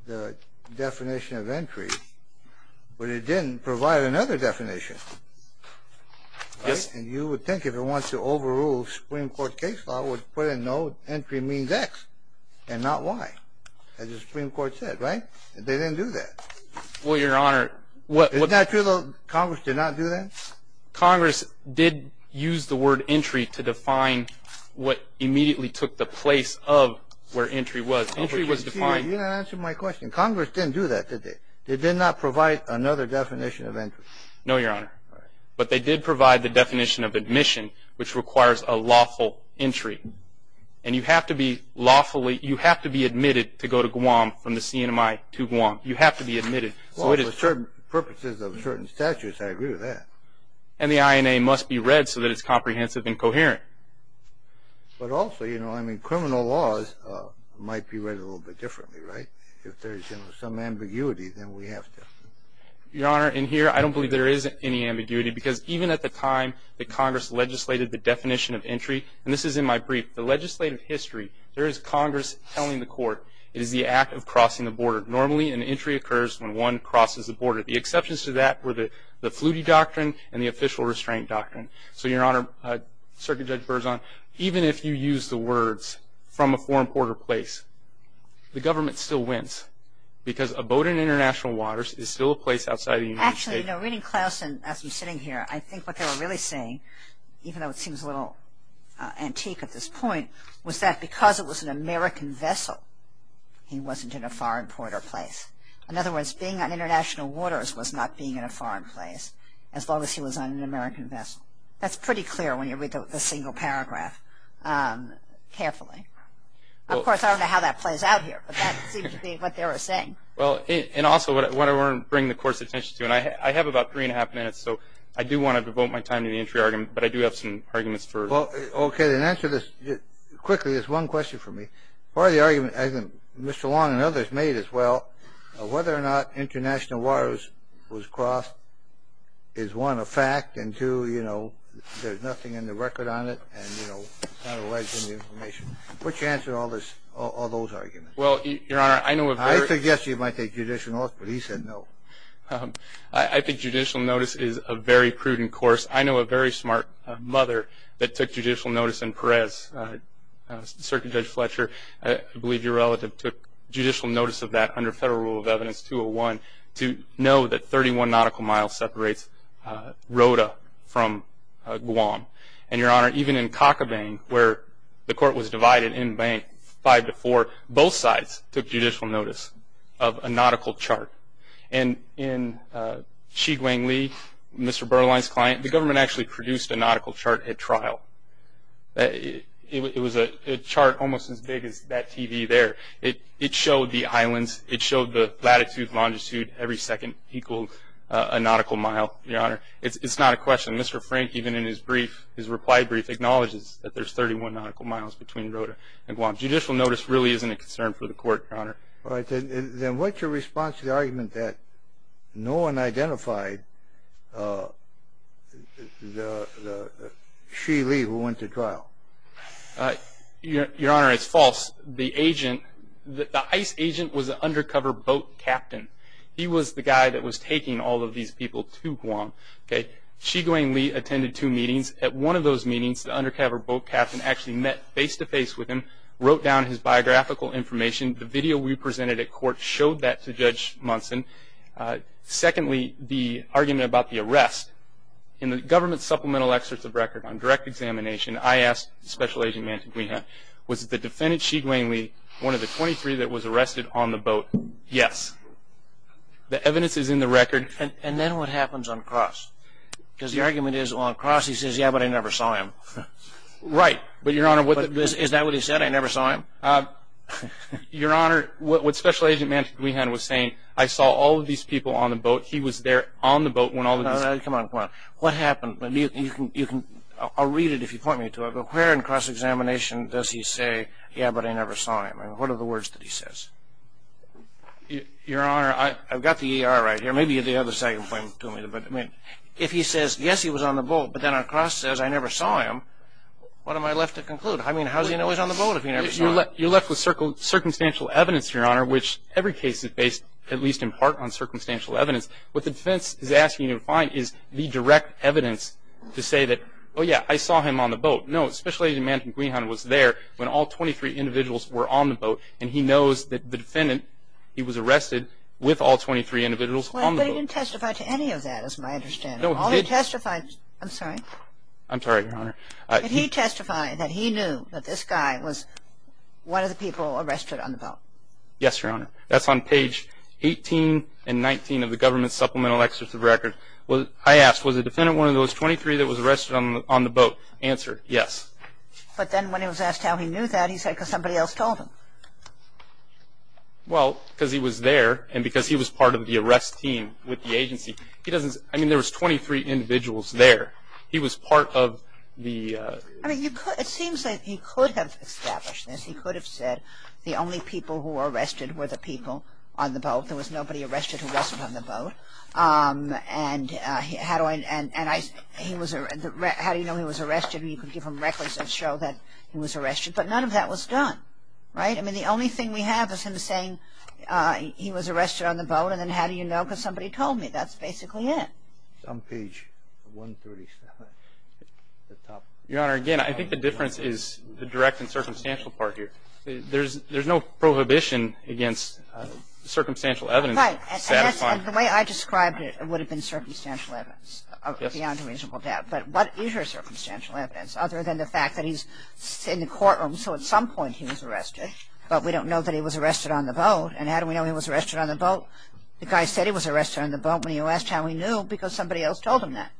the definition of entry, but it didn't provide another definition. And you would think if it wants to overrule Supreme Court case law, it would put in no entry means X and not Y, as the Supreme Court said, right? They didn't do that. Well, Your Honor, what... Isn't that true though, Congress did not do that? Congress did use the word entry to define what immediately took the place of where entry was. Entry was defined... You're not answering my question. Congress didn't do that, did they? They did not provide another definition of entry. No, Your Honor. All right. But they did provide the definition of admission, which requires a lawful entry. And you have to be lawfully, you have to be admitted to go to Guam from the CNMI to Guam. You have to be admitted. Well, for certain purposes of certain statutes, I agree with that. And the INA must be read so that it's comprehensive and coherent. But also, you know, I mean, criminal laws might be read a little bit differently, right? If there's some ambiguity, then we have to. Your Honor, in here, I don't believe there is any ambiguity, because even at the time that Congress legislated the definition of entry, and this is in my brief, the legislative history, there is Congress telling the court it is the act of crossing the border. Normally, an entry occurs when one crosses the border. The exceptions to that were the Flutie Doctrine and the Official Restraint Doctrine. So, Your Honor, Circuit Judge Berzon, even if you use the words from a foreign border place, the government still wins, because a boat in international waters is still a place outside of the United States. Actually, you know, reading Clausen as we're sitting here, I think what they were really saying, even though it seems a little antique at this point, was that because it was an American vessel, he wasn't in a foreign border place. In other words, being on international waters was not being in a foreign place, as long as he was on an American vessel. That's pretty clear when you read the single paragraph carefully. Of course, I don't know how that plays out here, but that seems to be what they were saying. And also, what I want to bring the Court's attention to, and I have about three and a half minutes, so I do want to devote my time to the entry argument, but I do have some arguments for it. Okay, then answer this quickly. There's one question for me. Part of the argument, as Mr. Long and others made as well, whether or not international waters was crossed is, one, a fact, and, two, you know, there's nothing in the record on it, and, you know, it's not alleged in the information. What's your answer to all those arguments? Well, Your Honor, I know of very – I suggested you might take judicial notice, but he said no. I think judicial notice is a very prudent course. I know a very smart mother that took judicial notice in Perez. Circuit Judge Fletcher, I believe your relative, took judicial notice of that under Federal Rule of Evidence 201 to know that 31 nautical miles separates Rota from Guam. And, Your Honor, even in Cochabang, where the Court was divided in bank five to four, both sides took judicial notice of a nautical chart. And in Chiguangli, Mr. Berline's client, the government actually produced a nautical chart at trial. It was a chart almost as big as that TV there. It showed the islands. It showed the latitude, longitude, every second equals a nautical mile, Your Honor. It's not a question. Mr. Frank, even in his brief, his reply brief, acknowledges that there's 31 nautical miles between Rota and Guam. Judicial notice really isn't a concern for the Court, Your Honor. All right. Then what's your response to the argument that no one identified the Chiguangli who went to trial? Your Honor, it's false. The agent, the ICE agent, was an undercover boat captain. He was the guy that was taking all of these people to Guam. Chiguangli attended two meetings. At one of those meetings, the undercover boat captain actually met face-to-face with him, wrote down his biographical information. The video we presented at court showed that to Judge Munson. Secondly, the argument about the arrest, in the government supplemental excerpt of record on direct examination, I asked Special Agent Manteguiha, was the defendant Chiguangli one of the 23 that was arrested on the boat? Yes. The evidence is in the record. And then what happens on cross? Because the argument is on cross, he says, yeah, but I never saw him. Right. Is that what he said, I never saw him? Your Honor, what Special Agent Manteguiha was saying, I saw all of these people on the boat, he was there on the boat when all of these people... All right, come on, come on. What happened? I'll read it if you point me to it. Where in cross-examination does he say, yeah, but I never saw him? What are the words that he says? Your Honor, I've got the ER right here. Maybe you have the second point to me. If he says, yes, he was on the boat, but then on cross says, I never saw him, what am I left to conclude? I mean, how does he know he was on the boat if he never saw him? You're left with circumstantial evidence, Your Honor, which every case is based at least in part on circumstantial evidence. What the defense is asking you to find is the direct evidence to say that, oh, yeah, I saw him on the boat. No, Special Agent Manteguiha was there when all 23 individuals were on the boat, and he knows that the defendant, he was arrested with all 23 individuals on the boat. Well, but he didn't testify to any of that is my understanding. No, he did. All he testified, I'm sorry. I'm sorry, Your Honor. Did he testify that he knew that this guy was one of the people arrested on the boat? Yes, Your Honor. That's on page 18 and 19 of the government supplemental excerpt of the record. I asked, was the defendant one of those 23 that was arrested on the boat? Answered, yes. But then when he was asked how he knew that, he said because somebody else told him. Well, because he was there and because he was part of the arrest team with the agency. He doesn't, I mean, there was 23 individuals there. He was part of the... I mean, it seems like he could have established this. He could have said the only people who were arrested were the people on the boat. There was nobody arrested who wasn't on the boat. And how do I, and I, he was, how do you know he was arrested? You could give him records that show that he was arrested. But none of that was done, right? I mean, the only thing we have is him saying he was arrested on the boat and then how do you know because somebody told me. That's basically it. It's on page 137 at the top. Your Honor, again, I think the difference is the direct and circumstantial part here. There's no prohibition against circumstantial evidence satisfying. And the way I described it, it would have been circumstantial evidence beyond a reasonable doubt. But what is your circumstantial evidence other than the fact that he's in the courtroom, so at some point he was arrested, but we don't know that he was arrested on the boat. And how do we know he was arrested on the boat? The guy said he was arrested on the boat when you asked how he knew because somebody else told him that.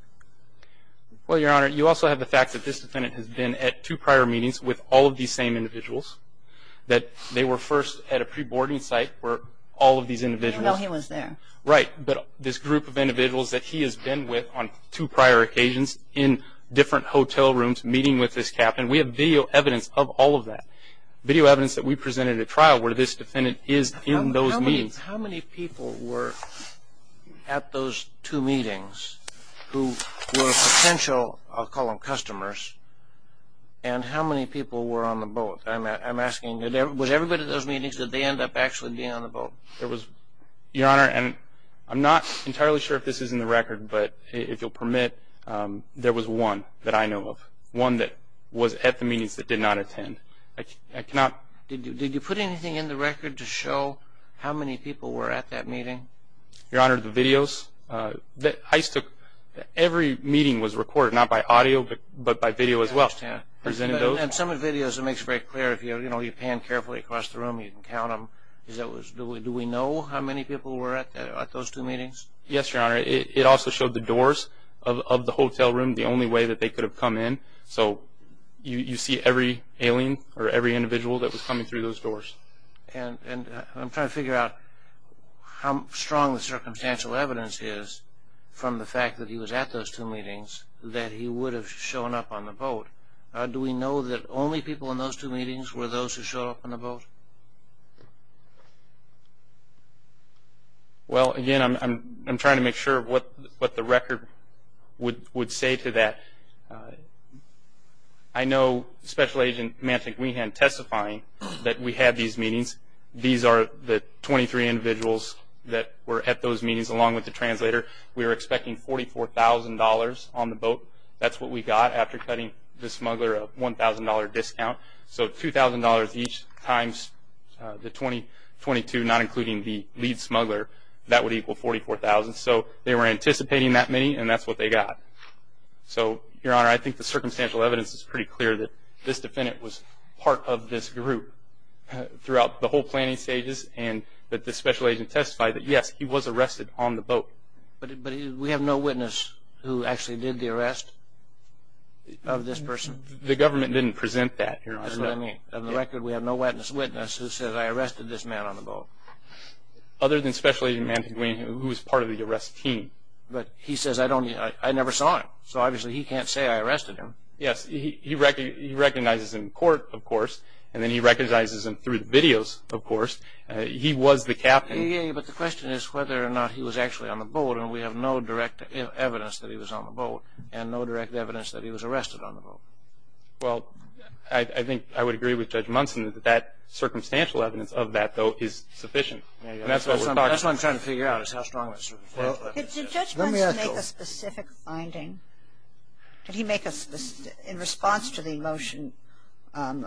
Well, Your Honor, you also have the fact that this defendant has been at two prior meetings with all of these same individuals, that they were first at a pre-boarding site where all of these individuals... Even though he was there. Right. But this group of individuals that he has been with on two prior occasions in different hotel rooms, meeting with this captain, we have video evidence of all of that, video evidence that we presented at trial where this defendant is in those meetings. How many people were at those two meetings who were potential, I'll call them customers, and how many people were on the boat? I'm asking, was everybody at those meetings, did they end up actually being on the boat? Your Honor, and I'm not entirely sure if this is in the record, but if you'll permit, there was one that I know of, one that was at the meetings that did not attend. I cannot... Did you put anything in the record to show how many people were at that meeting? Your Honor, the videos... Every meeting was recorded, not by audio, but by video as well. And some of the videos, it makes it very clear. If you pan carefully across the room, you can count them. Do we know how many people were at those two meetings? Yes, Your Honor. It also showed the doors of the hotel room, the only way that they could have come in. So you see every alien or every individual that was coming through those doors. And I'm trying to figure out how strong the circumstantial evidence is from the fact that he was at those two meetings that he would have shown up on the boat. Do we know that only people in those two meetings were those who showed up on the boat? Well, again, I'm trying to make sure of what the record would say to that. I know Special Agent Manson-Greenhand testifying that we had these meetings. These are the 23 individuals that were at those meetings along with the translator. We were expecting $44,000 on the boat. That's what we got after cutting the smuggler a $1,000 discount. So $2,000 each times the 22, not including the lead smuggler, that would equal $44,000. So they were anticipating that many, and that's what they got. So, Your Honor, I think the circumstantial evidence is pretty clear that this defendant was part of this group throughout the whole planning stages and that the special agent testified that, yes, he was arrested on the boat. But we have no witness who actually did the arrest of this person? The government didn't present that, Your Honor. That's what I mean. On the record, we have no witness who says, I arrested this man on the boat. Other than Special Agent Manson-Greenhand, who was part of the arrest team. But he says, I never saw him. So, obviously, he can't say I arrested him. Yes, he recognizes him in court, of course, and then he recognizes him through the videos, of course. He was the captain. But the question is whether or not he was actually on the boat, and we have no direct evidence that he was on the boat and no direct evidence that he was arrested on the boat. Well, I think I would agree with Judge Munson that that circumstantial evidence of that, though, is sufficient. And that's what we're talking about. That's what I'm trying to figure out is how strong the circumstantial evidence is. Did Judge Munson make a specific finding? Did he make a specific – in response to the motion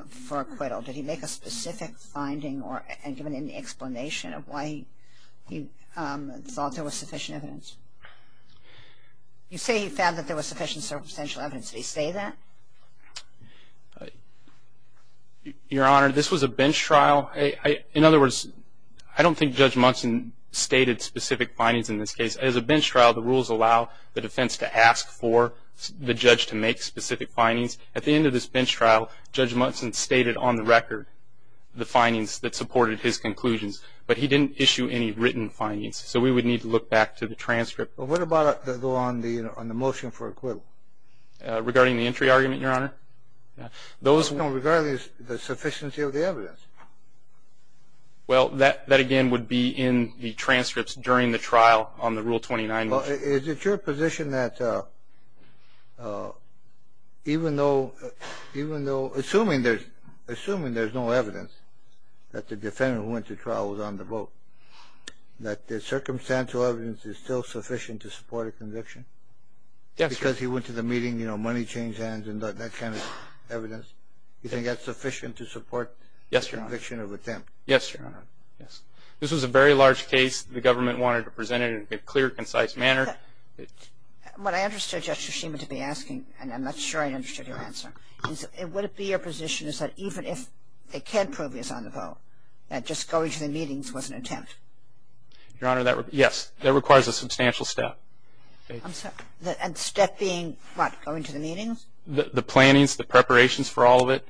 for acquittal, did he make a specific finding and give an explanation of why he thought there was sufficient evidence? You say he found that there was sufficient circumstantial evidence. Did he say that? Your Honor, this was a bench trial. In other words, I don't think Judge Munson stated specific findings in this case. As a bench trial, the rules allow the defense to ask for the judge to make specific findings. At the end of this bench trial, Judge Munson stated on the record the findings that supported his conclusions, but he didn't issue any written findings. So we would need to look back to the transcript. Well, what about on the motion for acquittal? Regarding the entry argument, Your Honor? No, regarding the sufficiency of the evidence. Well, that again would be in the transcripts during the trial on the Rule 29 motion. Well, is it your position that even though – assuming there's no evidence that the defendant who went to trial was on the boat, that the circumstantial evidence is still sufficient to support a conviction? Yes, Your Honor. Because he went to the meeting, you know, money changed hands and that kind of evidence. Do you think that's sufficient to support a conviction of attempt? Yes, Your Honor. This was a very large case. The government wanted to present it in a clear, concise manner. What I understood Justice Schema to be asking, and I'm not sure I understood your answer, is would it be your position is that even if they can prove he was on the boat, that just going to the meetings was an attempt? Your Honor, yes. That requires a substantial step. And step being what? Going to the meetings? The plannings, the preparations for all of it.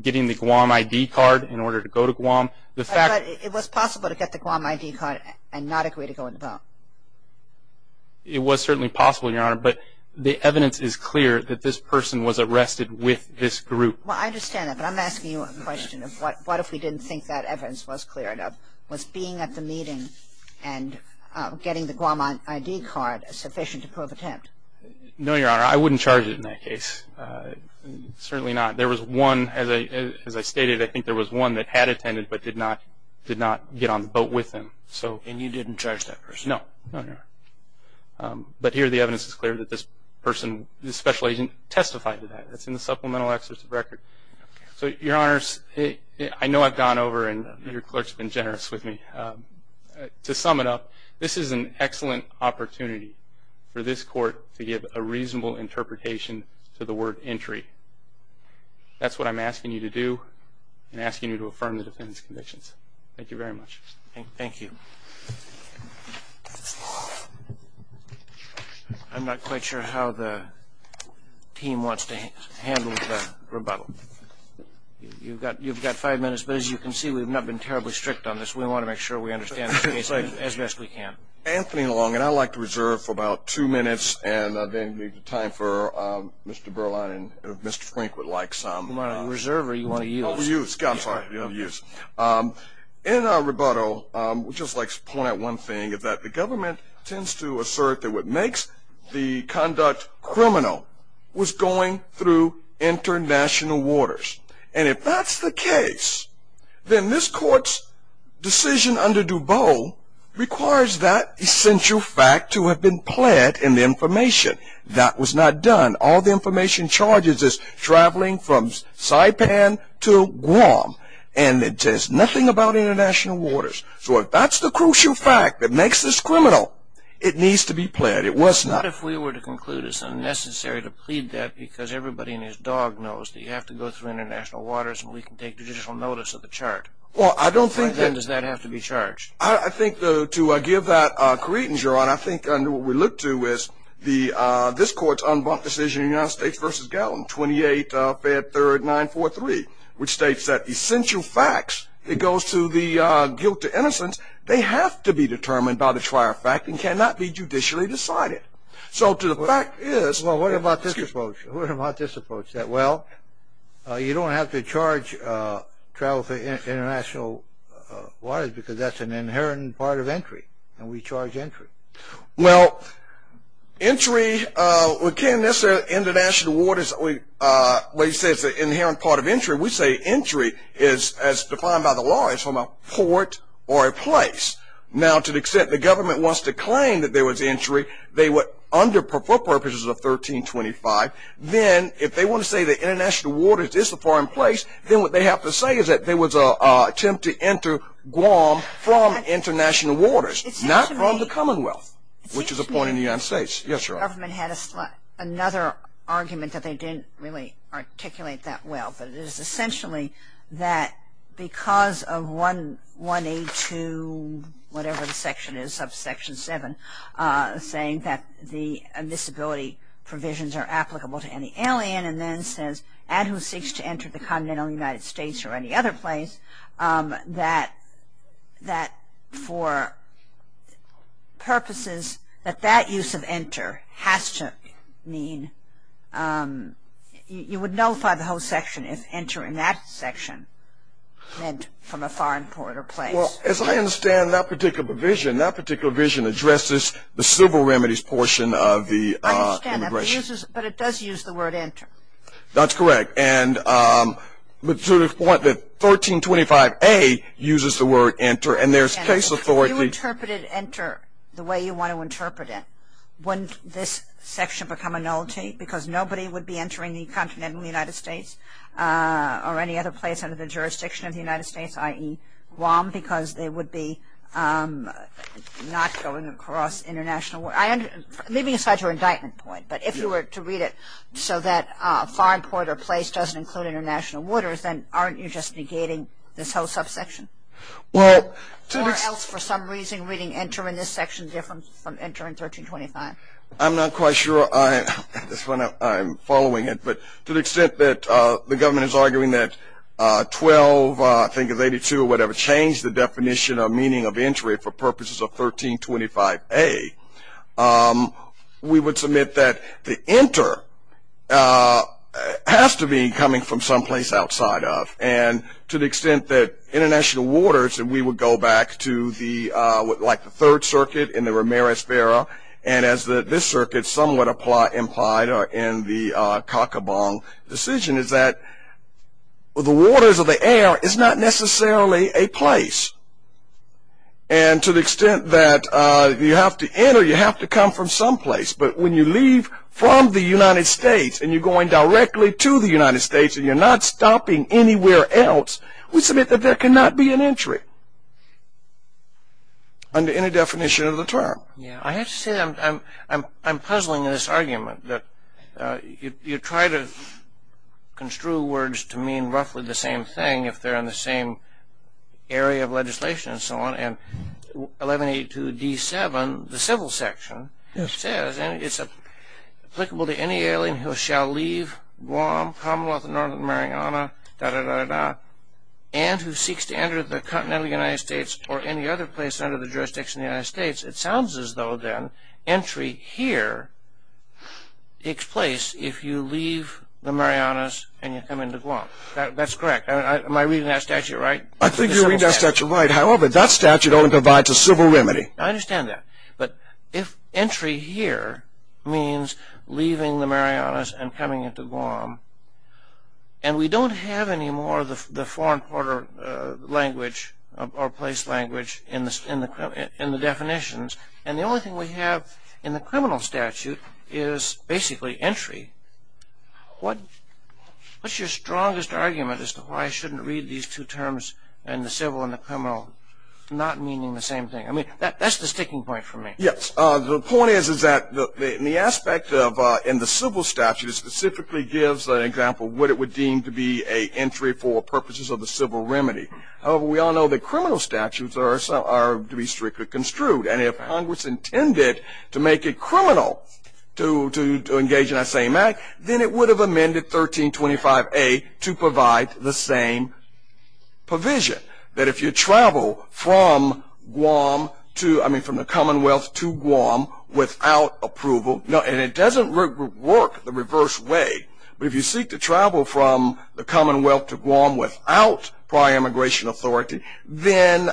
Getting the Guam ID card in order to go to Guam. But it was possible to get the Guam ID card and not agree to go on the boat. It was certainly possible, Your Honor, but the evidence is clear that this person was arrested with this group. Well, I understand that, but I'm asking you a question of what if we didn't think that evidence was clear enough? Was being at the meeting and getting the Guam ID card sufficient to prove attempt? No, Your Honor. I wouldn't charge it in that case. Certainly not. There was one, as I stated, I think there was one that had attended but did not get on the boat with him. And you didn't charge that person? No. No, Your Honor. But here the evidence is clear that this person, this special agent, testified to that. That's in the supplemental excerpt of the record. Okay. So, Your Honors, I know I've gone over and your clerk's been generous with me. To sum it up, this is an excellent opportunity for this court to give a reasonable interpretation to the word entry. That's what I'm asking you to do and asking you to affirm the defendant's convictions. Thank you very much. Thank you. I'm not quite sure how the team wants to handle the rebuttal. You've got five minutes, but as you can see, we've not been terribly strict on this. We want to make sure we understand this case as best we can. Anthony Long, and I'd like to reserve for about two minutes, and then leave the time for Mr. Berline and if Mr. Frank would like some. You want to reserve or you want to use? Use. In our rebuttal, I'd just like to point out one thing, that the government tends to assert that what makes the conduct criminal was going through international waters. And if that's the case, then this court's decision under DuBose requires that essential fact to have been pled in the information. That was not done. All the information charges is traveling from Saipan to Guam, and it says nothing about international waters. So if that's the crucial fact that makes this criminal, it needs to be pled. It was not. What if we were to conclude it's unnecessary to plead that because everybody and his dog knows that you have to go through international waters and we can take judicial notice of the chart? Well, I don't think that. Then does that have to be charged? I think to give that credence, Your Honor, I think under what we look to is this court's unbunked decision in the United States versus Gatlin, 28 Fed 3rd 943, which states that essential facts, it goes to the guilt to innocence, they have to be determined by the trier fact and cannot be judicially decided. So to the fact is. Well, what about this approach? What about this approach? That, well, you don't have to charge travel for international waters because that's an inherent part of entry, and we charge entry. Well, entry, we can't necessarily international waters, what you say is an inherent part of entry. We say entry is, as defined by the law, is from a port or a place. Now, to the extent the government wants to claim that there was entry, they would, for purposes of 1325, then if they want to say that international waters is a foreign place, then what they have to say is that there was an attempt to enter Guam from international waters, not from the Commonwealth, which is a point in the United States. Yes, Your Honor. The government had another argument that they didn't really articulate that well, but it is essentially that because of 1A2, whatever the section is, subsection 7, saying that the admissibility provisions are applicable to any alien, and then says add who seeks to enter the continental United States or any other place, that for purposes that that use of enter has to mean, you would nullify the whole section if enter in that section meant from a foreign port or place. Well, as I understand that particular provision, that particular provision addresses the civil remedies portion of the immigration. I understand that, but it does use the word enter. That's correct. And to the point that 1325A uses the word enter, and there's case authority. If you interpreted enter the way you want to interpret it, wouldn't this section become a nullity because nobody would be entering the continental United States or any other place under the jurisdiction of the United States, i.e. Guam, because they would be not going across international waters? I'm leaving aside your indictment point, but if you were to read it so that foreign port or place doesn't include international waters, then aren't you just negating this whole subsection? Or else for some reason reading enter in this section different from enter in 1325? I'm not quite sure I'm following it, but to the extent that the government is arguing that 12, I think it's 82 or whatever, has changed the definition of meaning of entry for purposes of 1325A, we would submit that the enter has to be coming from someplace outside of. And to the extent that international waters, and we would go back to the third circuit in the Ramirez-Vera, and as this circuit somewhat implied in the Kakabong decision, is that the waters or the air is not necessarily a place. And to the extent that you have to enter, you have to come from someplace, but when you leave from the United States and you're going directly to the United States and you're not stopping anywhere else, we submit that there cannot be an entry under any definition of the term. I have to say that I'm puzzling in this argument, that you try to construe words to mean roughly the same thing if they're in the same area of legislation and so on, and 1182D7, the civil section, says, and it's applicable to any alien who shall leave Guam, Commonwealth of Northern Mariana, and who seeks to enter the continental United States or any other place under the jurisdiction of the United States, it sounds as though, then, entry here takes place if you leave the Marianas and you come into Guam. That's correct. Am I reading that statute right? I think you're reading that statute right. However, that statute only provides a civil remedy. I understand that. But if entry here means leaving the Marianas and coming into Guam, and we don't have any more of the foreign border language or place language in the definitions, and the only thing we have in the criminal statute is basically entry, what's your strongest argument as to why I shouldn't read these two terms, and the civil and the criminal, not meaning the same thing? I mean, that's the sticking point for me. Yes. The point is that the aspect in the civil statute specifically gives an example of what it would deem to be an entry for purposes of the civil remedy. However, we all know that criminal statutes are to be strictly construed, and if Congress intended to make it criminal to engage in that same act, then it would have amended 1325A to provide the same provision, that if you travel from the Commonwealth to Guam without approval, and it doesn't work the reverse way, but if you seek to travel from the Commonwealth to Guam without prior immigration authority, then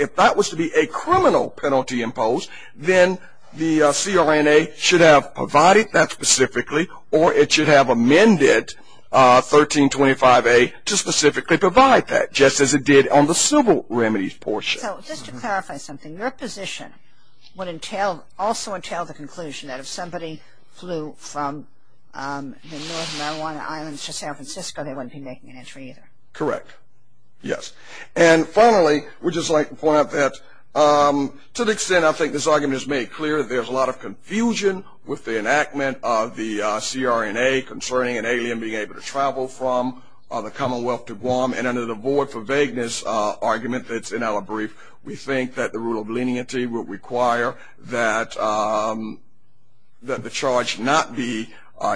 if that was to be a criminal penalty imposed, then the CRNA should have provided that specifically, or it should have amended 1325A to specifically provide that, just as it did on the civil remedies portion. So just to clarify something, your position would also entail the conclusion that if somebody flew from the Northern Marijuana Islands to San Francisco, they wouldn't be making an entry either. Correct. Yes. And finally, we'd just like to point out that to the extent I think this argument is made clear, there's a lot of confusion with the enactment of the CRNA concerning an alien being able to travel from the Commonwealth to Guam. And under the void for vagueness argument that's in our brief, we think that the rule of leniency would require that the charge not be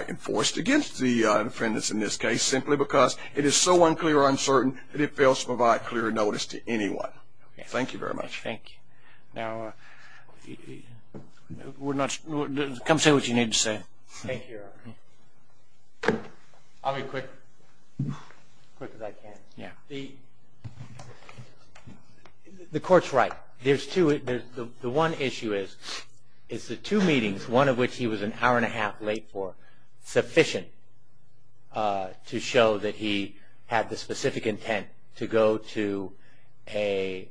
enforced against the defendants in this case simply because it is so unclear or uncertain that it fails to provide clear notice to anyone. Thank you very much. Thank you. Now, come say what you need to say. Thank you. I'll be quick, quick as I can. The court's right. The one issue is the two meetings, one of which he was an hour and a half late for, sufficient to show that he had the specific intent to go to a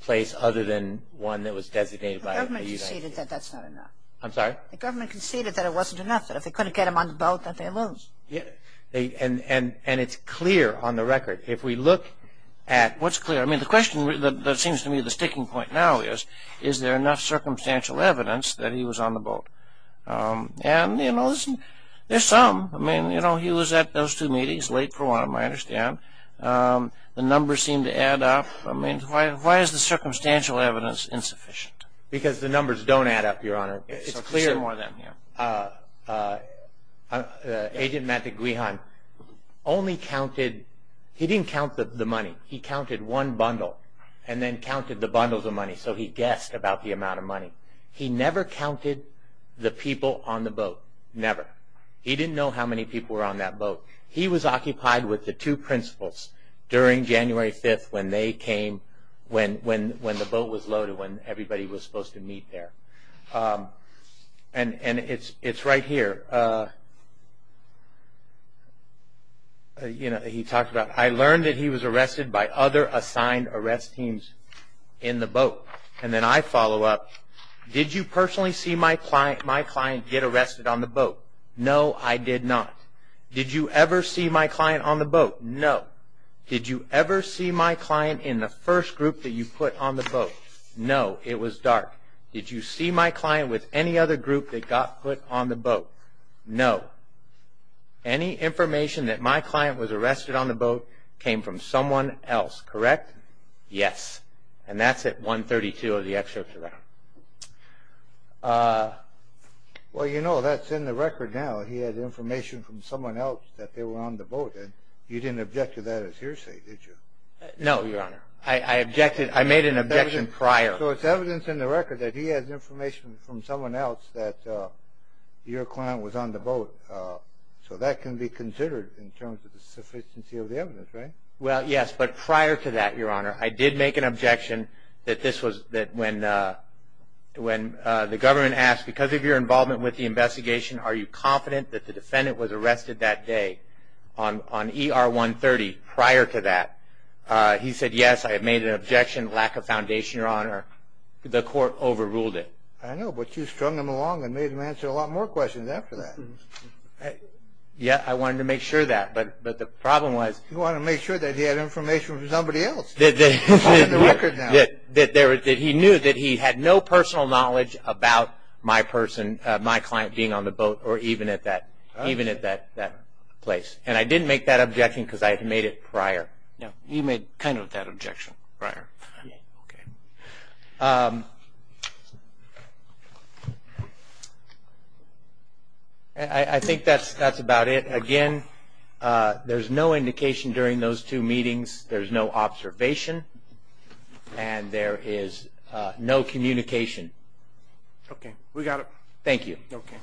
place other than one that was designated by the United States. The government conceded that that's not enough. I'm sorry? The government conceded that it wasn't enough, that if they couldn't get him on the boat, that they lose. And it's clear on the record. If we look at what's clear, I mean, the question that seems to me the sticking point now is, is there enough circumstantial evidence that he was on the boat? And, you know, there's some. I mean, you know, he was at those two meetings late for one, I understand. The numbers seem to add up. I mean, why is the circumstantial evidence insufficient? Because the numbers don't add up, Your Honor. It's clear. Agent Matt DeGuihan only counted, he didn't count the money. He counted one bundle and then counted the bundles of money, so he guessed about the amount of money. He never counted the people on the boat, never. He didn't know how many people were on that boat. He was occupied with the two principals during January 5th when they came, when the boat was loaded, when everybody was supposed to meet there. And it's right here. You know, he talks about, I learned that he was arrested by other assigned arrest teams in the boat. And then I follow up, did you personally see my client get arrested on the boat? No, I did not. Did you ever see my client on the boat? No. Did you ever see my client in the first group that you put on the boat? No, it was dark. Did you see my client with any other group that got put on the boat? No. Any information that my client was arrested on the boat came from someone else, correct? Yes. And that's at 132 of the excerpts around. Well, you know, that's in the record now. He had information from someone else that they were on the boat. You didn't object to that as hearsay, did you? No, Your Honor. I objected. I made an objection prior. So it's evidence in the record that he has information from someone else that your client was on the boat. So that can be considered in terms of the sufficiency of the evidence, right? Well, yes, but prior to that, Your Honor, I did make an objection that when the government asked, because of your involvement with the investigation, are you confident that the defendant was arrested that day on ER 130 prior to that, he said, yes, I made an objection, lack of foundation, Your Honor. The court overruled it. I know, but you strung him along and made him answer a lot more questions after that. Yes, I wanted to make sure of that, but the problem was he had information from somebody else. That's in the record now. He knew that he had no personal knowledge about my client being on the boat or even at that place, and I didn't make that objection because I had made it prior. No, you made kind of that objection prior. I think that's about it. Again, there's no indication during those two meetings. There's no observation, and there is no communication. Okay, we got it. Thank you.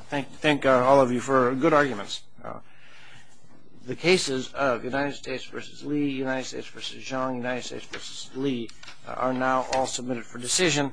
Thank all of you for good arguments. The cases of United States v. Lee, United States v. Zhang, United States v. Lee, are now all submitted for decision.